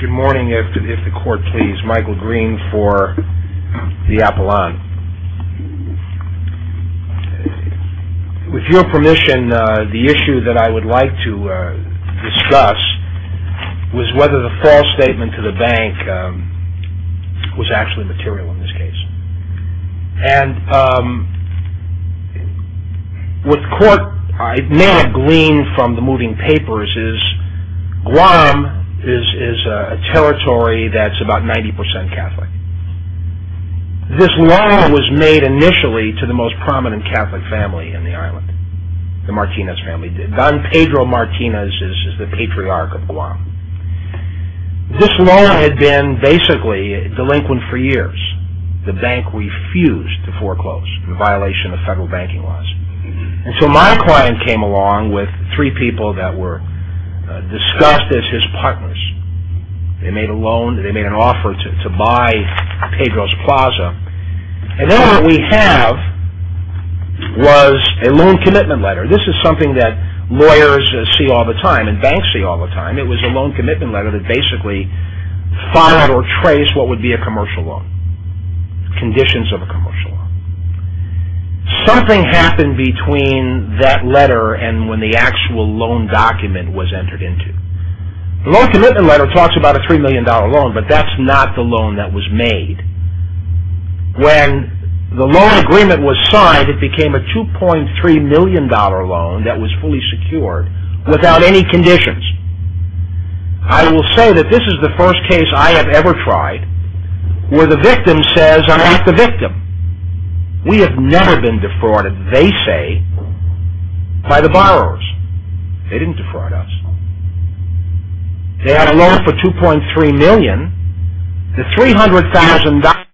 Good morning, if the court please. Michael Green for the Appelant. With your permission, the issue that I would like to discuss was whether the false statement to the bank was actually material in this case. And what the court may have gleaned from the moving papers is Guam is a territory that's about 90% Catholic. This law was made initially to the most prominent Catholic family in the island, the Martinez family. Don Pedro Martinez is the patriarch of Guam. This law had been basically delinquent for years. The bank refused to foreclose in violation of federal banking laws. And so my client came along with three people that were discussed as his partners. They made a loan, they made an offer to buy Pedro's Plaza. And then what we have was a loan commitment letter. This is something that lawyers see all the time, and banks see all the time. It was a loan commitment letter that basically followed or traced what would be a commercial loan. Conditions of a commercial loan. Something happened between that letter and when the actual loan document was entered into. The loan commitment letter talks about a $3 million loan, but that's not the $3 million loan that was fully secured without any conditions. I will say that this is the first case I have ever tried where the victim says, I'm not the victim. We have never been defrauded, they say, by the borrowers. They didn't defraud us. They had a loan for $2.3 million. The $300,000... I don't know if you can see this, but this is a $300,000 loan, and this is a $2.3 million loan.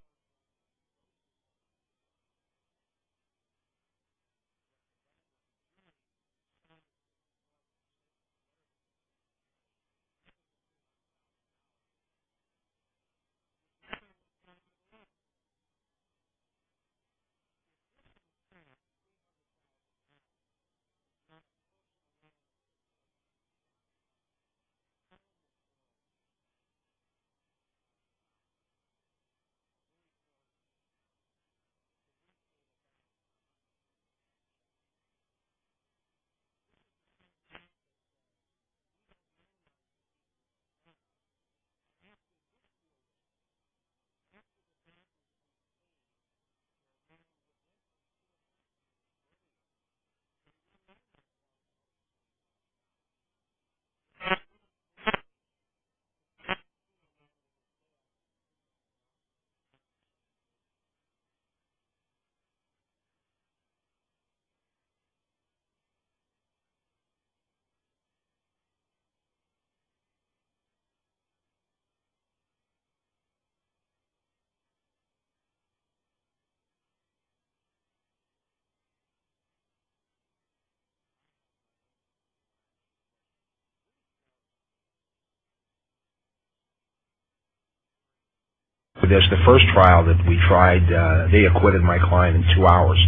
The first trial that we tried, they acquitted my client in two hours.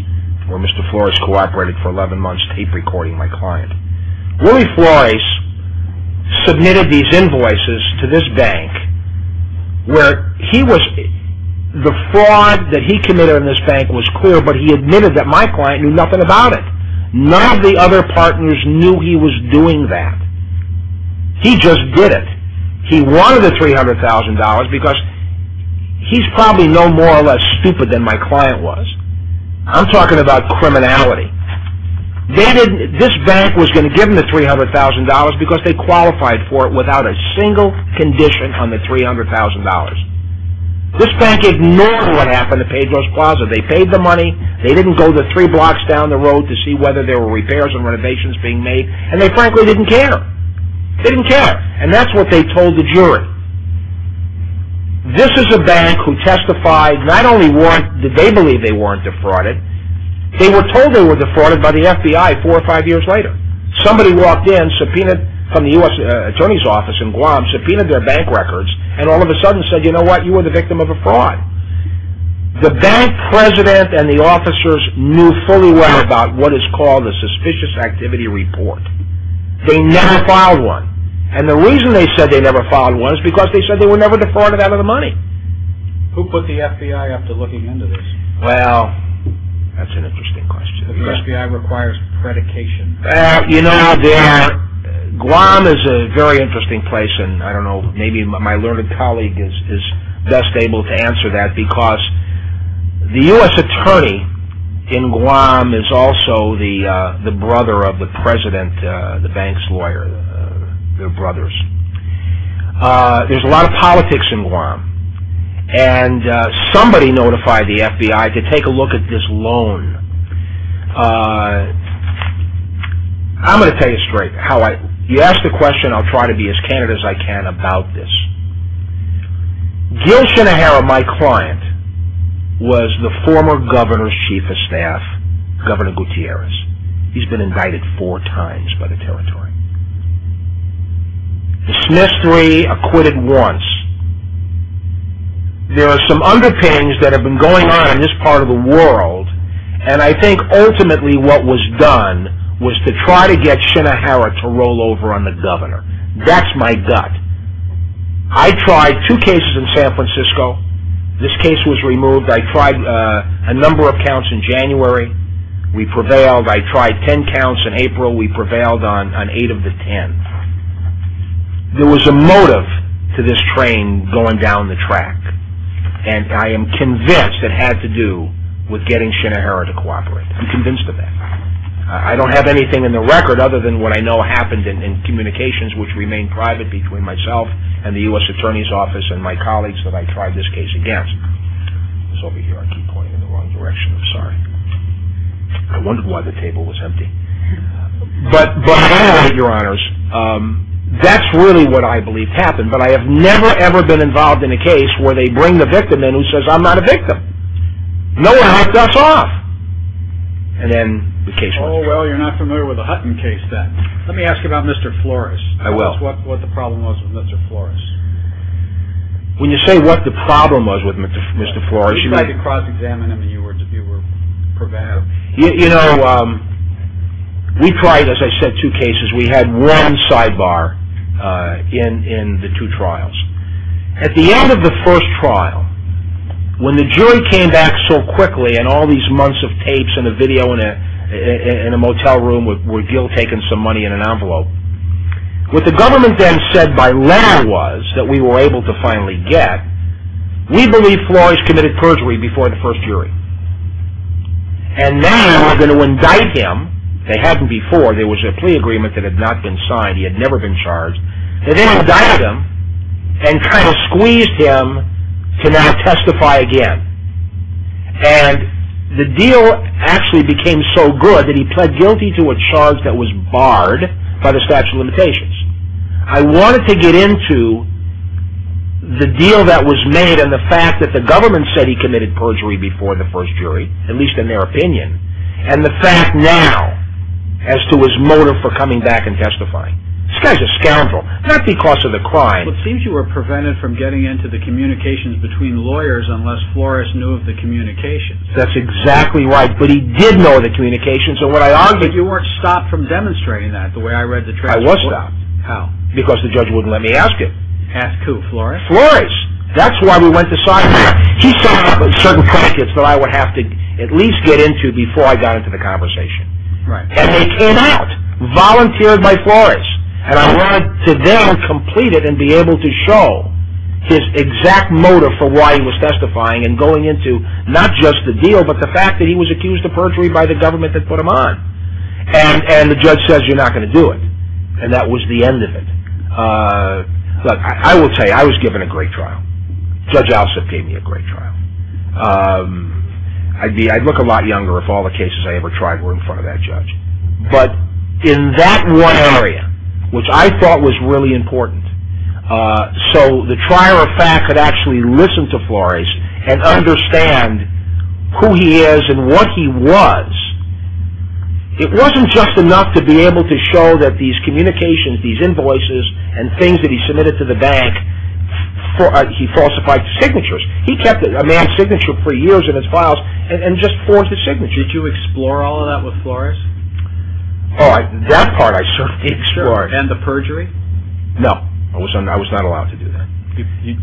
Where Mr. Flores cooperated for 11 months tape recording my client. Willie Flores submitted these invoices to this bank where he was... the fraud that he committed on this bank was clear, but he admitted that my client knew nothing about it. None of the other partners knew he was doing that. He just did it. He wanted the $300,000 because he's probably no more or less stupid than my client was. I'm talking about criminality. They didn't... this bank was going to give them the $300,000 because they qualified for it without a single condition on the $300,000. This bank ignored what happened to Pedro's Plaza. They paid the money. They didn't go the three blocks down the road to see whether there were repairs or renovations being made, and they frankly didn't care. They didn't care, and that's what they told the jury. This is a bank who testified, not only did they believe they weren't defrauded, they were told they were defrauded by the FBI four or five years later. Somebody walked in, subpoenaed from the U.S. Attorney's Office in Guam, subpoenaed their bank records, and all of a sudden said, you know what, you were the victim of a fraud. The bank president and the officers knew fully well about what is called a suspicious activity report. They never filed one, and the reason they said they never filed one is because they said they were never defrauded out of the money. Who put the FBI up to looking into this? Well, that's an interesting question. The FBI requires predication. You know, Guam is a very interesting place, and I don't know, maybe my learned colleague is best able to answer that, because the U.S. Attorney in Guam is also the brother of the president, the bank's lawyer. They're brothers. There's a lot of politics in Guam, and somebody notified the FBI to take a look at this loan. I'm going to tell you straight. You ask the question, I'll try to be as candid as I can about this. Gil Shinohara, my client, was the former governor's chief of staff, Governor Gutierrez. He's been indicted four times by the territory. Dismissed three, acquitted once. There are some underpinnings that have been going on in this part of the world, and I think ultimately what was done was to try to get Shinohara to roll over on the governor. That's my gut. I tried two cases in San Francisco. This case was removed. I tried a number of counts in January. We prevailed. I tried ten counts in April. We prevailed on eight of the ten. There was a motive to this train going down the track, and I am convinced it had to do with getting Shinohara to cooperate. I'm convinced of that. I don't have anything in the record other than what I know happened in communications, which remain private between myself and the U.S. Attorney's Office and my colleagues that I tried this case against. It's over here. I keep pointing in the wrong direction. I'm sorry. I wonder why the table was empty. But, your honors, that's really what I believe happened, but I have never, ever been involved in a case where they bring the victim in who says, I'm not a victim. No one hunts us off. And then the case was removed. Oh, well, you're not familiar with the Hutton case then. Let me ask you about Mr. Flores. I will. Tell us what the problem was with Mr. Flores. When you say what the problem was with Mr. Flores, you mean? You might have cross-examined him if you were prevailing. You know, we tried, as I said, two cases. We had one sidebar in the two trials. At the end of the first trial, when the jury came back so quickly and all these months of tapes and a video in a motel room with Gil taking some money in an envelope, what the government then said by letter was that we were able to finally get, we believe Flores committed perjury before the first jury. And now we're going to indict him. They hadn't before. There was a plea agreement that had not been signed. He had never been charged. They then indicted him and kind of squeezed him to not testify again. And the deal actually became so good that he pled guilty to a charge that was barred by the statute of limitations. I wanted to get into the deal that was made and the fact that the government said he committed perjury before the first jury, at least in their opinion, and the fact now as to his motive for coming back and testifying. This guy's a scoundrel. Not because of the crime. It seems you were prevented from getting into the communications between lawyers unless Flores knew of the communications. That's exactly right. But he did know of the communications. But you weren't stopped from demonstrating that the way I read the transcript. I was stopped. How? Because the judge wouldn't let me ask him. Ask who? Flores? Flores. That's why we went to sidebar. He set up certain brackets that I would have to at least get into before I got into the conversation. Right. And they came out. Volunteered by Flores. And I wanted to then complete it and be able to show his exact motive for why he was testifying and going into not just the deal but the fact that he was accused of perjury by the government that put him on. And the judge says you're not going to do it. And that was the end of it. Look, I will tell you, I was given a great trial. Judge Alsup gave me a great trial. I'd look a lot younger if all the cases I ever tried were in front of that judge. But in that one area, which I thought was really important, so the trier of fact could actually listen to Flores and understand who he is and what he was, it wasn't just enough to be able to show that these communications, these invoices, and things that he submitted to the bank, he falsified signatures. He kept a man's signature for years in his files and just forged his signature. Did you explore all of that with Flores? Oh, that part I certainly explored. And the perjury? No. I was not allowed to do that.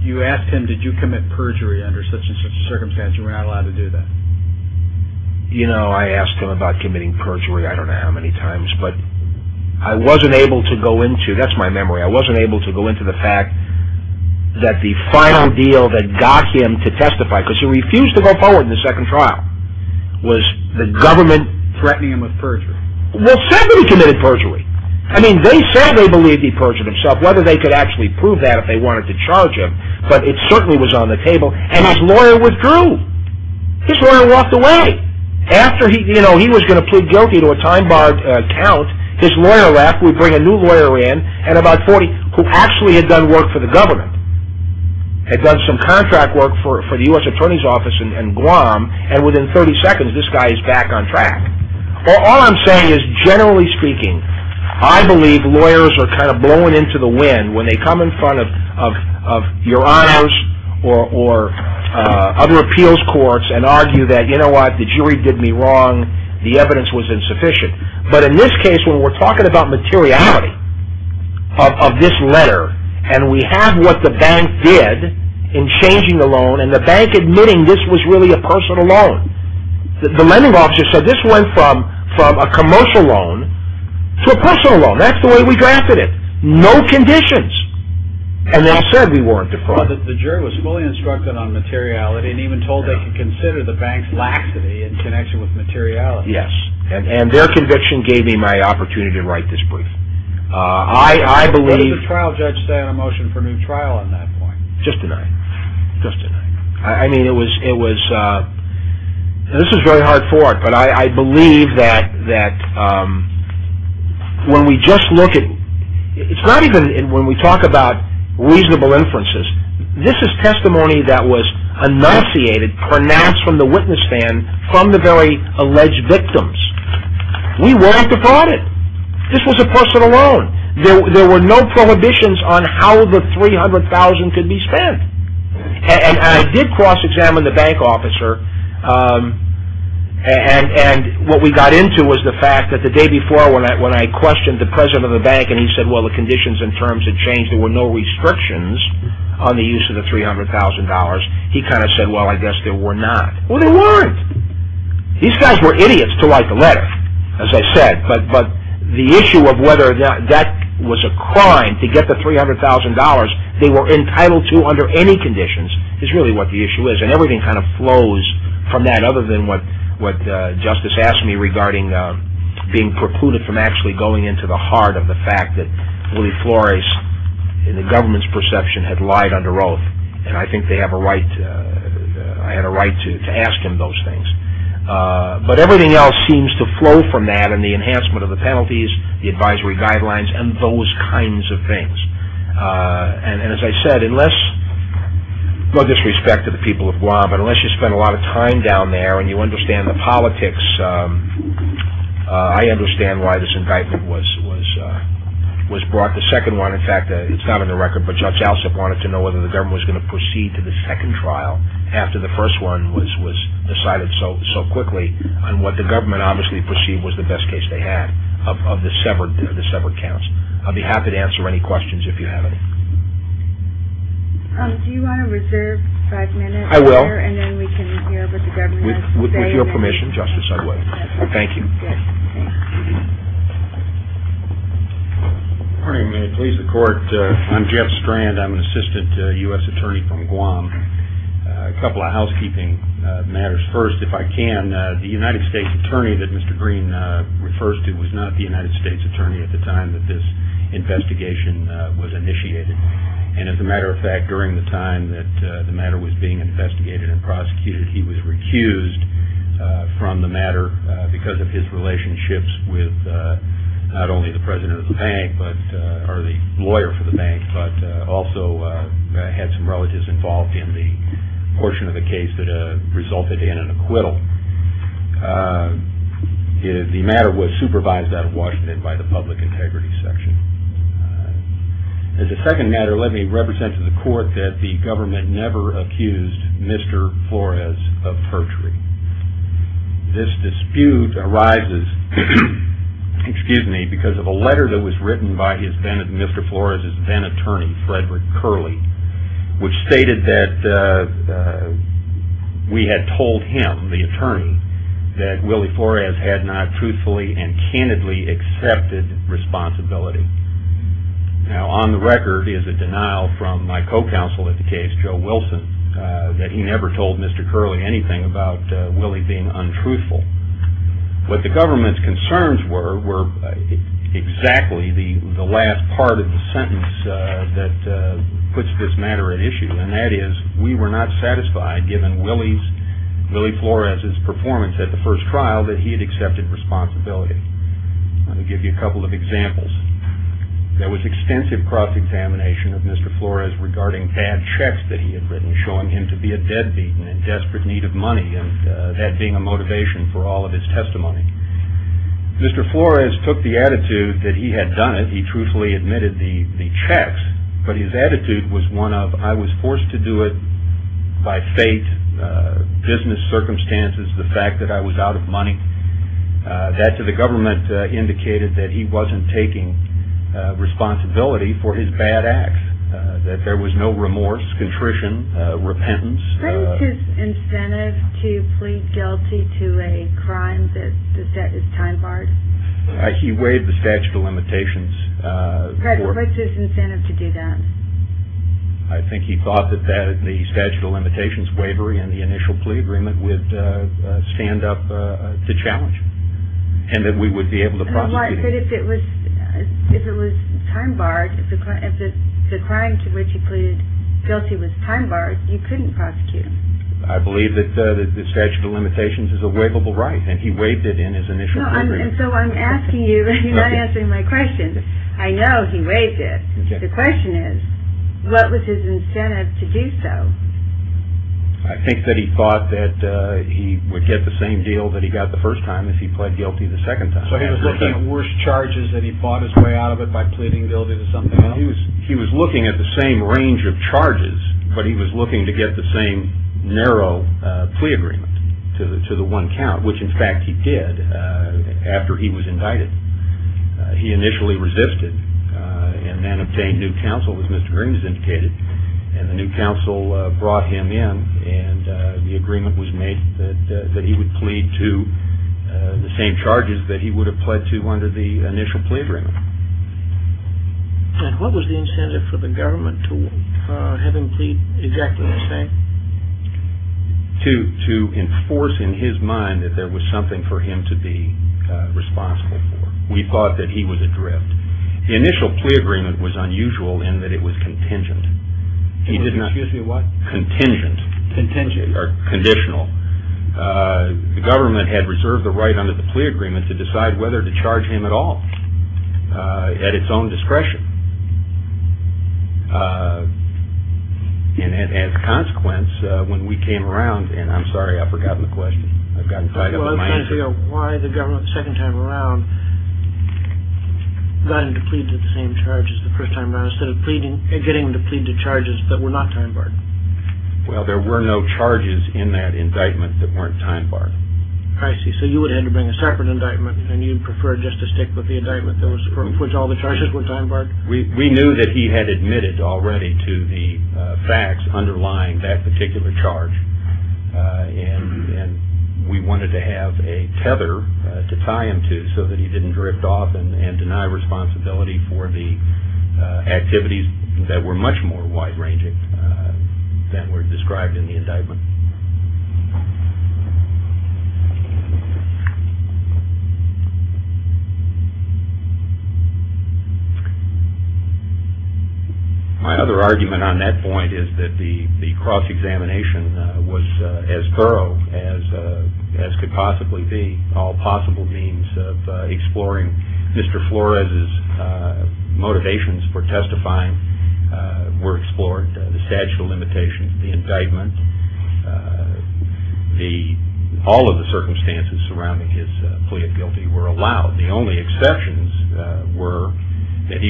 You asked him, did you commit perjury under such and such a circumstance? You were not allowed to do that. You know, I asked him about committing perjury I don't know how many times, but I wasn't able to go into, that's my memory, I wasn't able to go into the fact that the final deal that got him to testify, because he refused to go forward in the second trial, was the government threatening him with perjury. Well, somebody committed perjury. I mean, they said they believed he perjured himself, whether they could actually prove that if they wanted to charge him, but it certainly was on the table, and his lawyer withdrew. His lawyer walked away. After he was going to plead guilty to a time-barred count, his lawyer left, we bring a new lawyer in, who actually had done work for the government, had done some contract work for the U.S. Attorney's Office in Guam, and within 30 seconds this guy is back on track. All I'm saying is, generally speaking, I believe lawyers are kind of blown into the wind when they come in front of your honors or other appeals courts and argue that, you know what, the jury did me wrong, the evidence was insufficient. But in this case, when we're talking about materiality of this letter, and we have what the bank did in changing the loan, and the bank admitting this was really a personal loan. The lending officer said this went from a commercial loan to a personal loan. That's the way we drafted it. No conditions. And they all said we weren't the problem. The jury was fully instructed on materiality, and even told they could consider the bank's laxity in connection with materiality. Yes. And their conviction gave me my opportunity to write this brief. Did the trial judge stand a motion for new trial at that point? Just denied. Just denied. I mean, it was, this is very hard for it, but I believe that when we just look at, it's not even when we talk about reasonable inferences, this is testimony that was enunciated, pronounced from the witness stand, and from the very alleged victims. We weren't the product. This was a personal loan. There were no prohibitions on how the $300,000 could be spent. And I did cross-examine the bank officer, and what we got into was the fact that the day before, when I questioned the president of the bank, and he said, well, the conditions and terms had changed, there were no restrictions on the use of the $300,000, he kind of said, well, I guess there were not. Well, there weren't. These guys were idiots to write the letter, as I said, but the issue of whether that was a crime to get the $300,000 they were entitled to under any conditions is really what the issue is, and everything kind of flows from that, other than what Justice asked me regarding being precluded from actually going into the heart of the fact that Willie Flores, in the government's perception, had lied under oath, and I think I had a right to ask him those things. But everything else seems to flow from that, and the enhancement of the penalties, the advisory guidelines, and those kinds of things. And as I said, no disrespect to the people of Guam, but unless you spend a lot of time down there and you understand the politics, I understand why this indictment was brought. The second one, in fact, it's not on the record, but Judge Alsop wanted to know whether the government was going to proceed to the second trial after the first one was decided so quickly on what the government obviously perceived was the best case they had, of the severed counts. I'll be happy to answer any questions if you have any. Do you want to reserve five minutes? I will. And then we can hear what the government has to say. With your permission, Justice, I will. Thank you. Good. Good morning. May it please the Court. I'm Jeff Strand. I'm an assistant U.S. attorney from Guam. A couple of housekeeping matters. First, if I can, the United States attorney that Mr. Green refers to was not the United States attorney at the time that this investigation was initiated. And as a matter of fact, during the time that the matter was being investigated and prosecuted, he was recused from the matter because of his relationships with not only the president of the bank, or the lawyer for the bank, but also had some relatives involved in the portion of the case that resulted in an acquittal. The matter was supervised out of Washington by the public integrity section. As a second matter, let me represent to the Court that the government had never accused Mr. Flores of perjury. This dispute arises because of a letter that was written by Mr. Flores' then attorney, Frederick Curley, which stated that we had told him, the attorney, that Willie Flores had not truthfully and candidly accepted responsibility. Now, on the record is a denial from my co-counsel at the case, Joe Wilson, that he never told Mr. Curley anything about Willie being untruthful. But the government's concerns were exactly the last part of the sentence that puts this matter at issue, and that is, we were not satisfied, given Willie Flores' performance at the first trial, that he had accepted responsibility. Let me give you a couple of examples. There was extensive cross-examination of Mr. Flores regarding bad checks that he had written, showing him to be a deadbeat and in desperate need of money, and that being a motivation for all of his testimony. Mr. Flores took the attitude that he had done it, he truthfully admitted the checks, but his attitude was one of, I was forced to do it by fate, business circumstances, the fact that I was out of money. That, to the government, indicated that he wasn't taking responsibility for his bad acts, that there was no remorse, contrition, repentance. What is his incentive to plead guilty to a crime that is time-barred? He waived the statute of limitations. What's his incentive to do that? I think he thought that the statute of limitations waivery and the initial plea agreement would stand up to challenge, and that we would be able to prosecute. But if it was time-barred, if the crime to which he pleaded guilty was time-barred, you couldn't prosecute him. I believe that the statute of limitations is a waivable right, and he waived it in his initial plea agreement. No, and so I'm asking you, you're not answering my question. I know he waived it. The question is, what was his incentive to do so? I think that he thought that he would get the same deal that he got the first time if he pled guilty the second time. So he was looking at worse charges, that he fought his way out of it by pleading guilty to something else? He was looking at the same range of charges, but he was looking to get the same narrow plea agreement to the one count, which, in fact, he did after he was indicted. He initially resisted and then obtained new counsel, as Mr. Green has indicated, and the new counsel brought him in, and the agreement was made that he would plead to the same charges that he would have pled to under the initial plea agreement. And what was the incentive for the government to have him plead exactly the same? To enforce in his mind that there was something for him to be responsible for. We thought that he was adrift. The initial plea agreement was unusual in that it was contingent. Excuse me, what? Contingent. Contingent. Or conditional. The government had reserved the right under the plea agreement to decide whether to charge him at all at its own discretion. And as a consequence, when we came around, and I'm sorry, I've forgotten the question. Well, I was trying to figure out why the government, the second time around, got him to plead to the same charges the first time around instead of getting him to plead to charges that were not time barred. Well, there were no charges in that indictment that weren't time barred. I see. So you would have had to bring a separate indictment, and you'd prefer just to stick with the indictment for which all the charges were time barred? We knew that he had admitted already to the facts underlying that particular charge, and we wanted to have a tether to tie him to so that he didn't drift off and deny responsibility for the activities that were much more wide-ranging than were described in the indictment. My other argument on that point is that the cross-examination was as thorough as could possibly be. All possible means of exploring Mr. Flores' motivations for testifying were explored. The statute of limitations of the indictment, all of the circumstances surrounding his plea of guilty were allowed. The only exceptions were that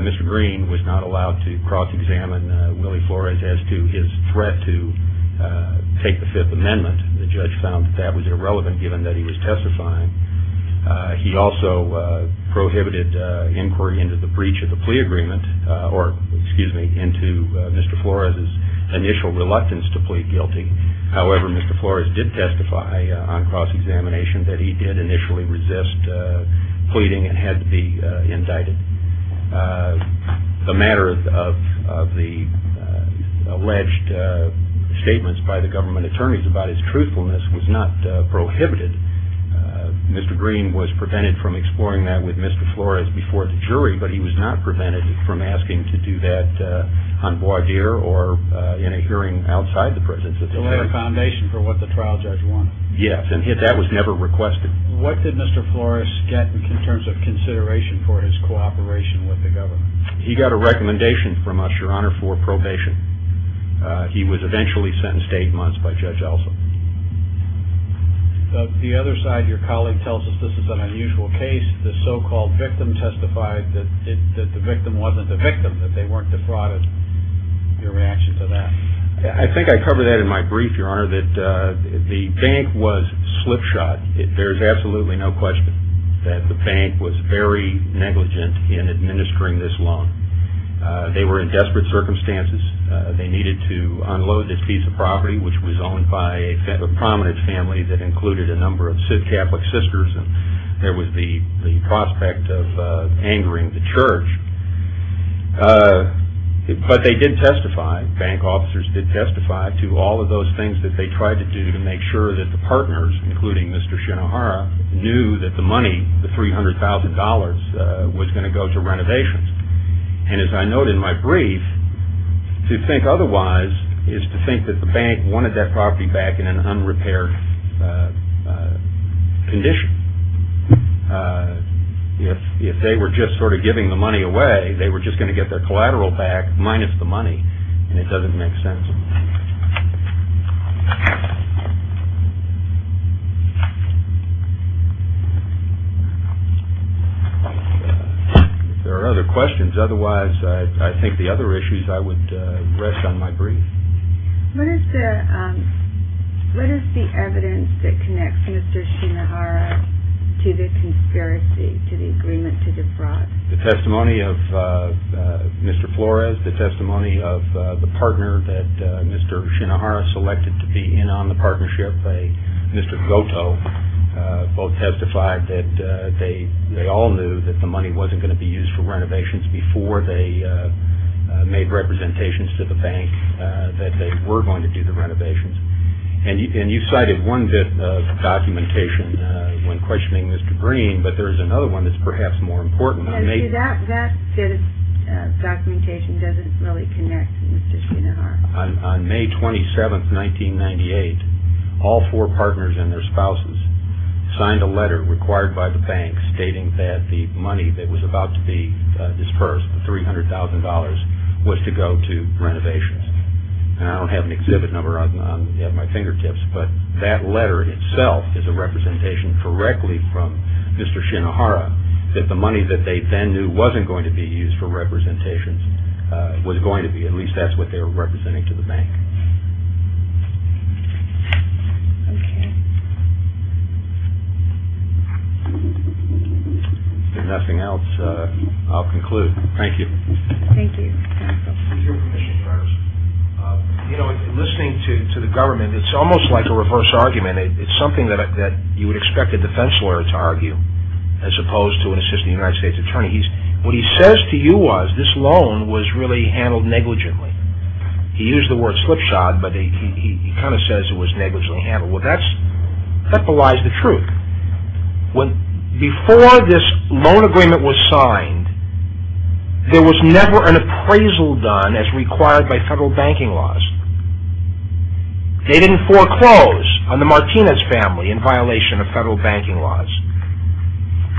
Mr. Green was not allowed to cross-examine Willie Flores as to his threat to take the Fifth Amendment. The judge found that that was irrelevant given that he was testifying. He also prohibited inquiry into the breach of the plea agreement or, excuse me, into Mr. Flores' initial reluctance to plead guilty. However, Mr. Flores did testify on cross-examination that he did initially resist pleading and had to be indicted. The matter of the alleged statements by the government attorneys about his truthfulness was not prohibited. Mr. Green was prevented from exploring that with Mr. Flores before the jury, but he was not prevented from asking to do that on voir dire or in a hearing outside the prisons. So there was a foundation for what the trial judge wanted. Yes, and that was never requested. What did Mr. Flores get in terms of consideration for his cooperation with the government? He got a recommendation from us, Your Honor, for probation. He was eventually sentenced to eight months by Judge Elson. The other side, your colleague tells us this is an unusual case. The so-called victim testified that the victim wasn't the victim, that they weren't the fraud. Your reaction to that? I think I covered that in my brief, Your Honor, that the bank was slip-shot. There's absolutely no question that the bank was very negligent in administering this loan. They were in desperate circumstances. They needed to unload this piece of property, which was owned by a prominent family that included a number of Catholic sisters, and there was the prospect of angering the church. But they did testify, bank officers did testify to all of those things that they tried to do to make sure that the partners, including Mr. Shinohara, knew that the money, the $300,000, was going to go to renovations. And as I note in my brief, to think otherwise is to think that the bank wanted that property back in an unrepaired condition. If they were just sort of giving the money away, they were just going to get their collateral back minus the money, and it doesn't make sense. Thank you. If there are other questions, otherwise I think the other issues I would rest on my brief. What is the evidence that connects Mr. Shinohara to the conspiracy, to the agreement to defraud? The testimony of Mr. Flores, the testimony of the partner that Mr. Shinohara selected to be in on the partnership, Mr. Goto, both testified that they all knew that the money wasn't going to be used for renovations before they made representations to the bank that they were going to do the renovations. And you cited one bit of documentation when questioning Mr. Green, but there is another one that's perhaps more important. That bit of documentation doesn't really connect to Mr. Shinohara. On May 27, 1998, all four partners and their spouses signed a letter required by the bank stating that the money that was about to be disbursed, the $300,000, was to go to renovations. I don't have an exhibit number at my fingertips, but that letter itself is a representation correctly from Mr. Shinohara that the money that they then knew wasn't going to be used for representations was going to be. At least that's what they were representing to the bank. If nothing else, I'll conclude. Thank you. Thank you. Mr. Shinohara, listening to the government, it's almost like a reverse argument. It's something that you would expect a defense lawyer to argue, as opposed to an assistant United States attorney. What he says to you was, this loan was really handled negligently. He used the word slipshod, but he kind of says it was negligently handled. Well, that belies the truth. Before this loan agreement was signed, there was never an appraisal done as required by federal banking laws. They didn't foreclose on the Martinez family in violation of federal banking laws.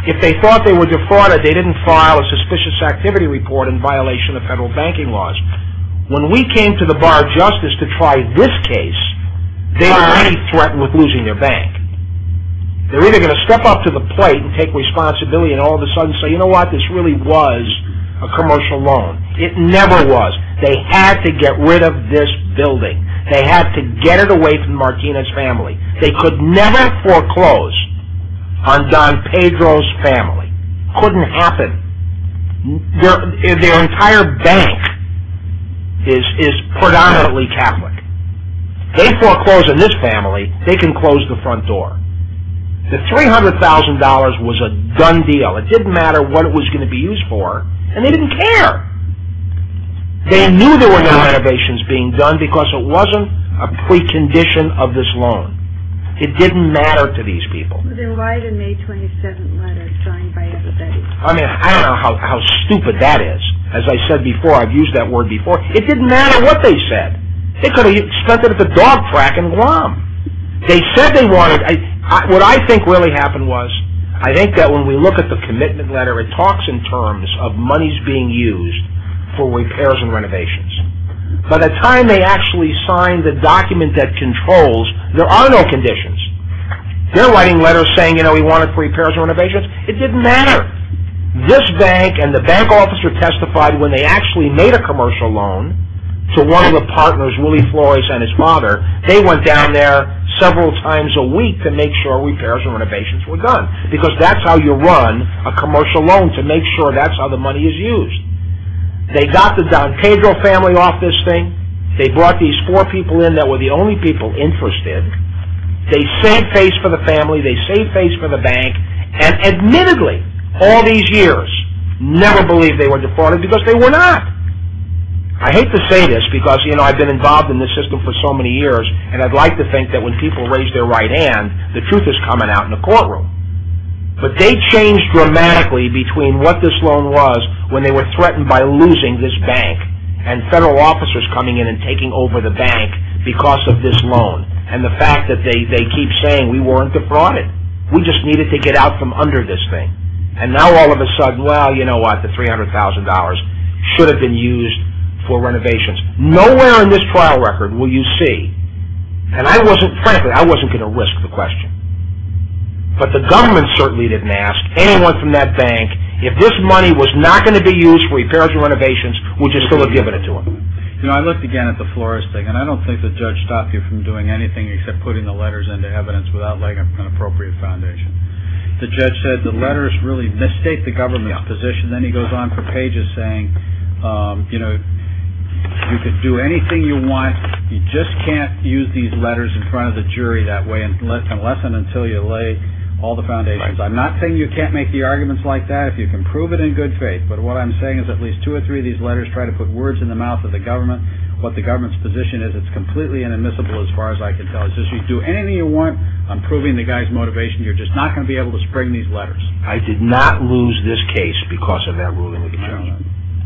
If they thought they were defrauded, they didn't file a suspicious activity report in violation of federal banking laws. When we came to the bar of justice to try this case, they were already threatened with losing their bank. They were either going to step up to the plate and take responsibility, and all of a sudden say, you know what? This really was a commercial loan. It never was. They had to get rid of this building. They had to get it away from Martinez family. They could never foreclose on Don Pedro's family. Couldn't happen. Their entire bank is predominantly Catholic. They foreclosed on this family. They can close the front door. The $300,000 was a done deal. It didn't matter what it was going to be used for, and they didn't care. They knew there were no renovations being done because it wasn't a precondition of this loan. It didn't matter to these people. It was in a May 27th letter signed by Epifany. I mean, I don't know how stupid that is. As I said before, I've used that word before. It didn't matter what they said. They could have spent it at the dog track in Guam. They said they wanted... What I think really happened was, I think that when we look at the commitment letter, it talks in terms of monies being used for repairs and renovations. By the time they actually signed the document that controls, there are no conditions. They're writing letters saying, you know, we want it for repairs and renovations. It didn't matter. This bank and the bank officer testified when they actually made a commercial loan to one of the partners, Willie Flores and his father. They went down there several times a week to make sure repairs and renovations were done because that's how you run a commercial loan, to make sure that's how the money is used. They got the Don Pedro family off this thing. They brought these four people in that were the only people interested. They saved face for the family. They saved face for the bank. And admittedly, all these years, never believed they were deported because they were not. I hate to say this because, you know, I've been involved in this system for so many years and I'd like to think that when people raise their right hand, the truth is coming out in the courtroom. But they changed dramatically between what this loan was when they were threatened by losing this bank and federal officers coming in and taking over the bank because of this loan and the fact that they keep saying, we weren't defrauded. We just needed to get out from under this thing. And now all of a sudden, well, you know what, the $300,000 should have been used for renovations. Nowhere in this trial record will you see, and frankly, I wasn't going to risk the question, but the government certainly didn't ask anyone from that bank if this money was not going to be used for repairs and renovations, would you still have given it to them? You know, I looked again at the florist thing, and I don't think the judge stopped you from doing anything except putting the letters into evidence without laying an appropriate foundation. The judge said the letters really misstate the government's position. Then he goes on for pages saying, you know, you can do anything you want. You just can't use these letters in front of the jury that way and lessen until you lay all the foundations. I'm not saying you can't make the arguments like that if you can prove it in good faith, but what I'm saying is at least two or three of these letters try to put words in the mouth of the government what the government's position is. It's completely inadmissible as far as I can tell. As soon as you do anything you want, I'm proving the guy's motivation. You're just not going to be able to spring these letters. I did not lose this case because of that ruling of the judge.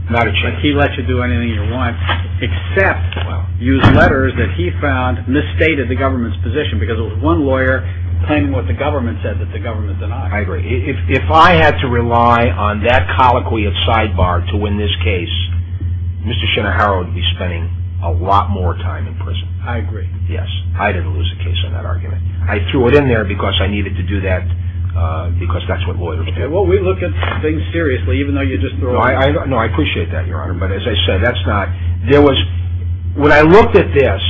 Not a chance. But he lets you do anything you want except use letters that he found misstated the government's position because it was one lawyer claiming what the government said that the government denied. I agree. If I had to rely on that colloquy of sidebar to win this case, Mr. Shinnehara would be spending a lot more time in prison. I agree. Yes, I didn't lose the case in that argument. I threw it in there because I needed to do that because that's what lawyers do. Well, we look at things seriously even though you just threw it in there. No, I appreciate that, Your Honor. But as I said, that's not... There was... When I looked at this,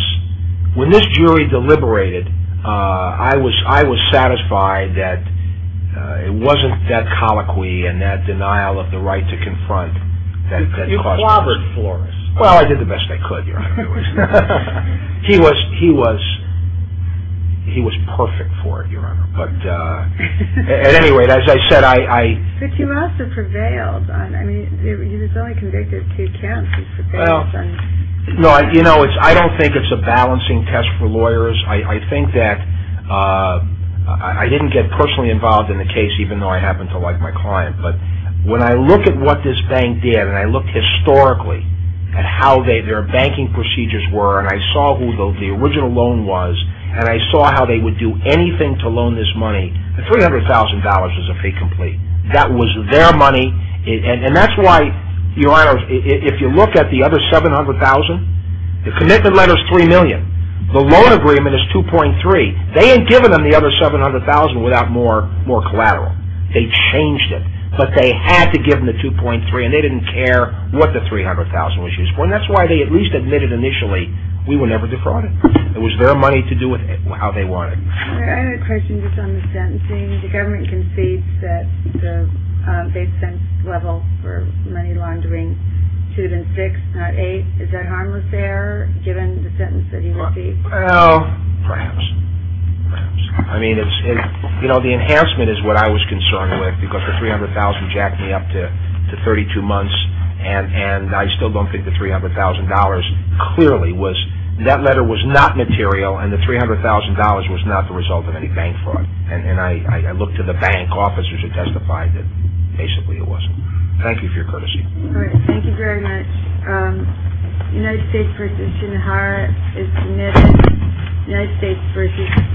when this jury deliberated, I was satisfied that it wasn't that colloquy and that denial of the right to confront... You clobbered Flores. Well, I did the best I could, Your Honor. He was perfect for it, Your Honor. At any rate, as I said, I... But you also prevailed. I mean, he was only convicted two counts. He prevailed. No, you know, I don't think it's a balancing test for lawyers. I think that... I didn't get personally involved in the case even though I happen to like my client. But when I look at what this bank did and I look historically at how their banking procedures were and I saw who the original loan was and I saw how they would do anything to loan this money, $300,000 was a fee complete. That was their money. And that's why, Your Honor, if you look at the other $700,000, the commitment letter's $3 million. The loan agreement is $2.3 million. They hadn't given them the other $700,000 without more collateral. They changed it. But they had to give them the $2.3 million and they didn't care what the $300,000 was used for. And that's why they at least admitted initially, we were never defrauded. It was their money to do it how they wanted. I have a question just on the sentencing. The government concedes that they've sent level for money laundering two to six, not eight. Is that harmless there, given the sentence that he received? Well, perhaps. I mean, the enhancement is what I was concerned with because the $300,000 jacked me up to 32 months and I still don't think the $300,000 clearly was... That letter was not material and the $300,000 was not the result of any bank fraud. And I looked to the bank officers who testified that basically it wasn't. Thank you for your courtesy. All right. Thank you very much. United States v. Shinohara is submitted. United States v.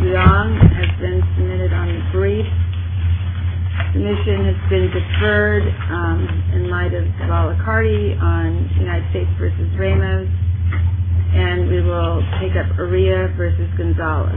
Leong has been submitted on the brief. Submission has been deferred in light of Cavalli-Cardi on United States v. Ramos. And we will take up Uriah v. Gonzalez.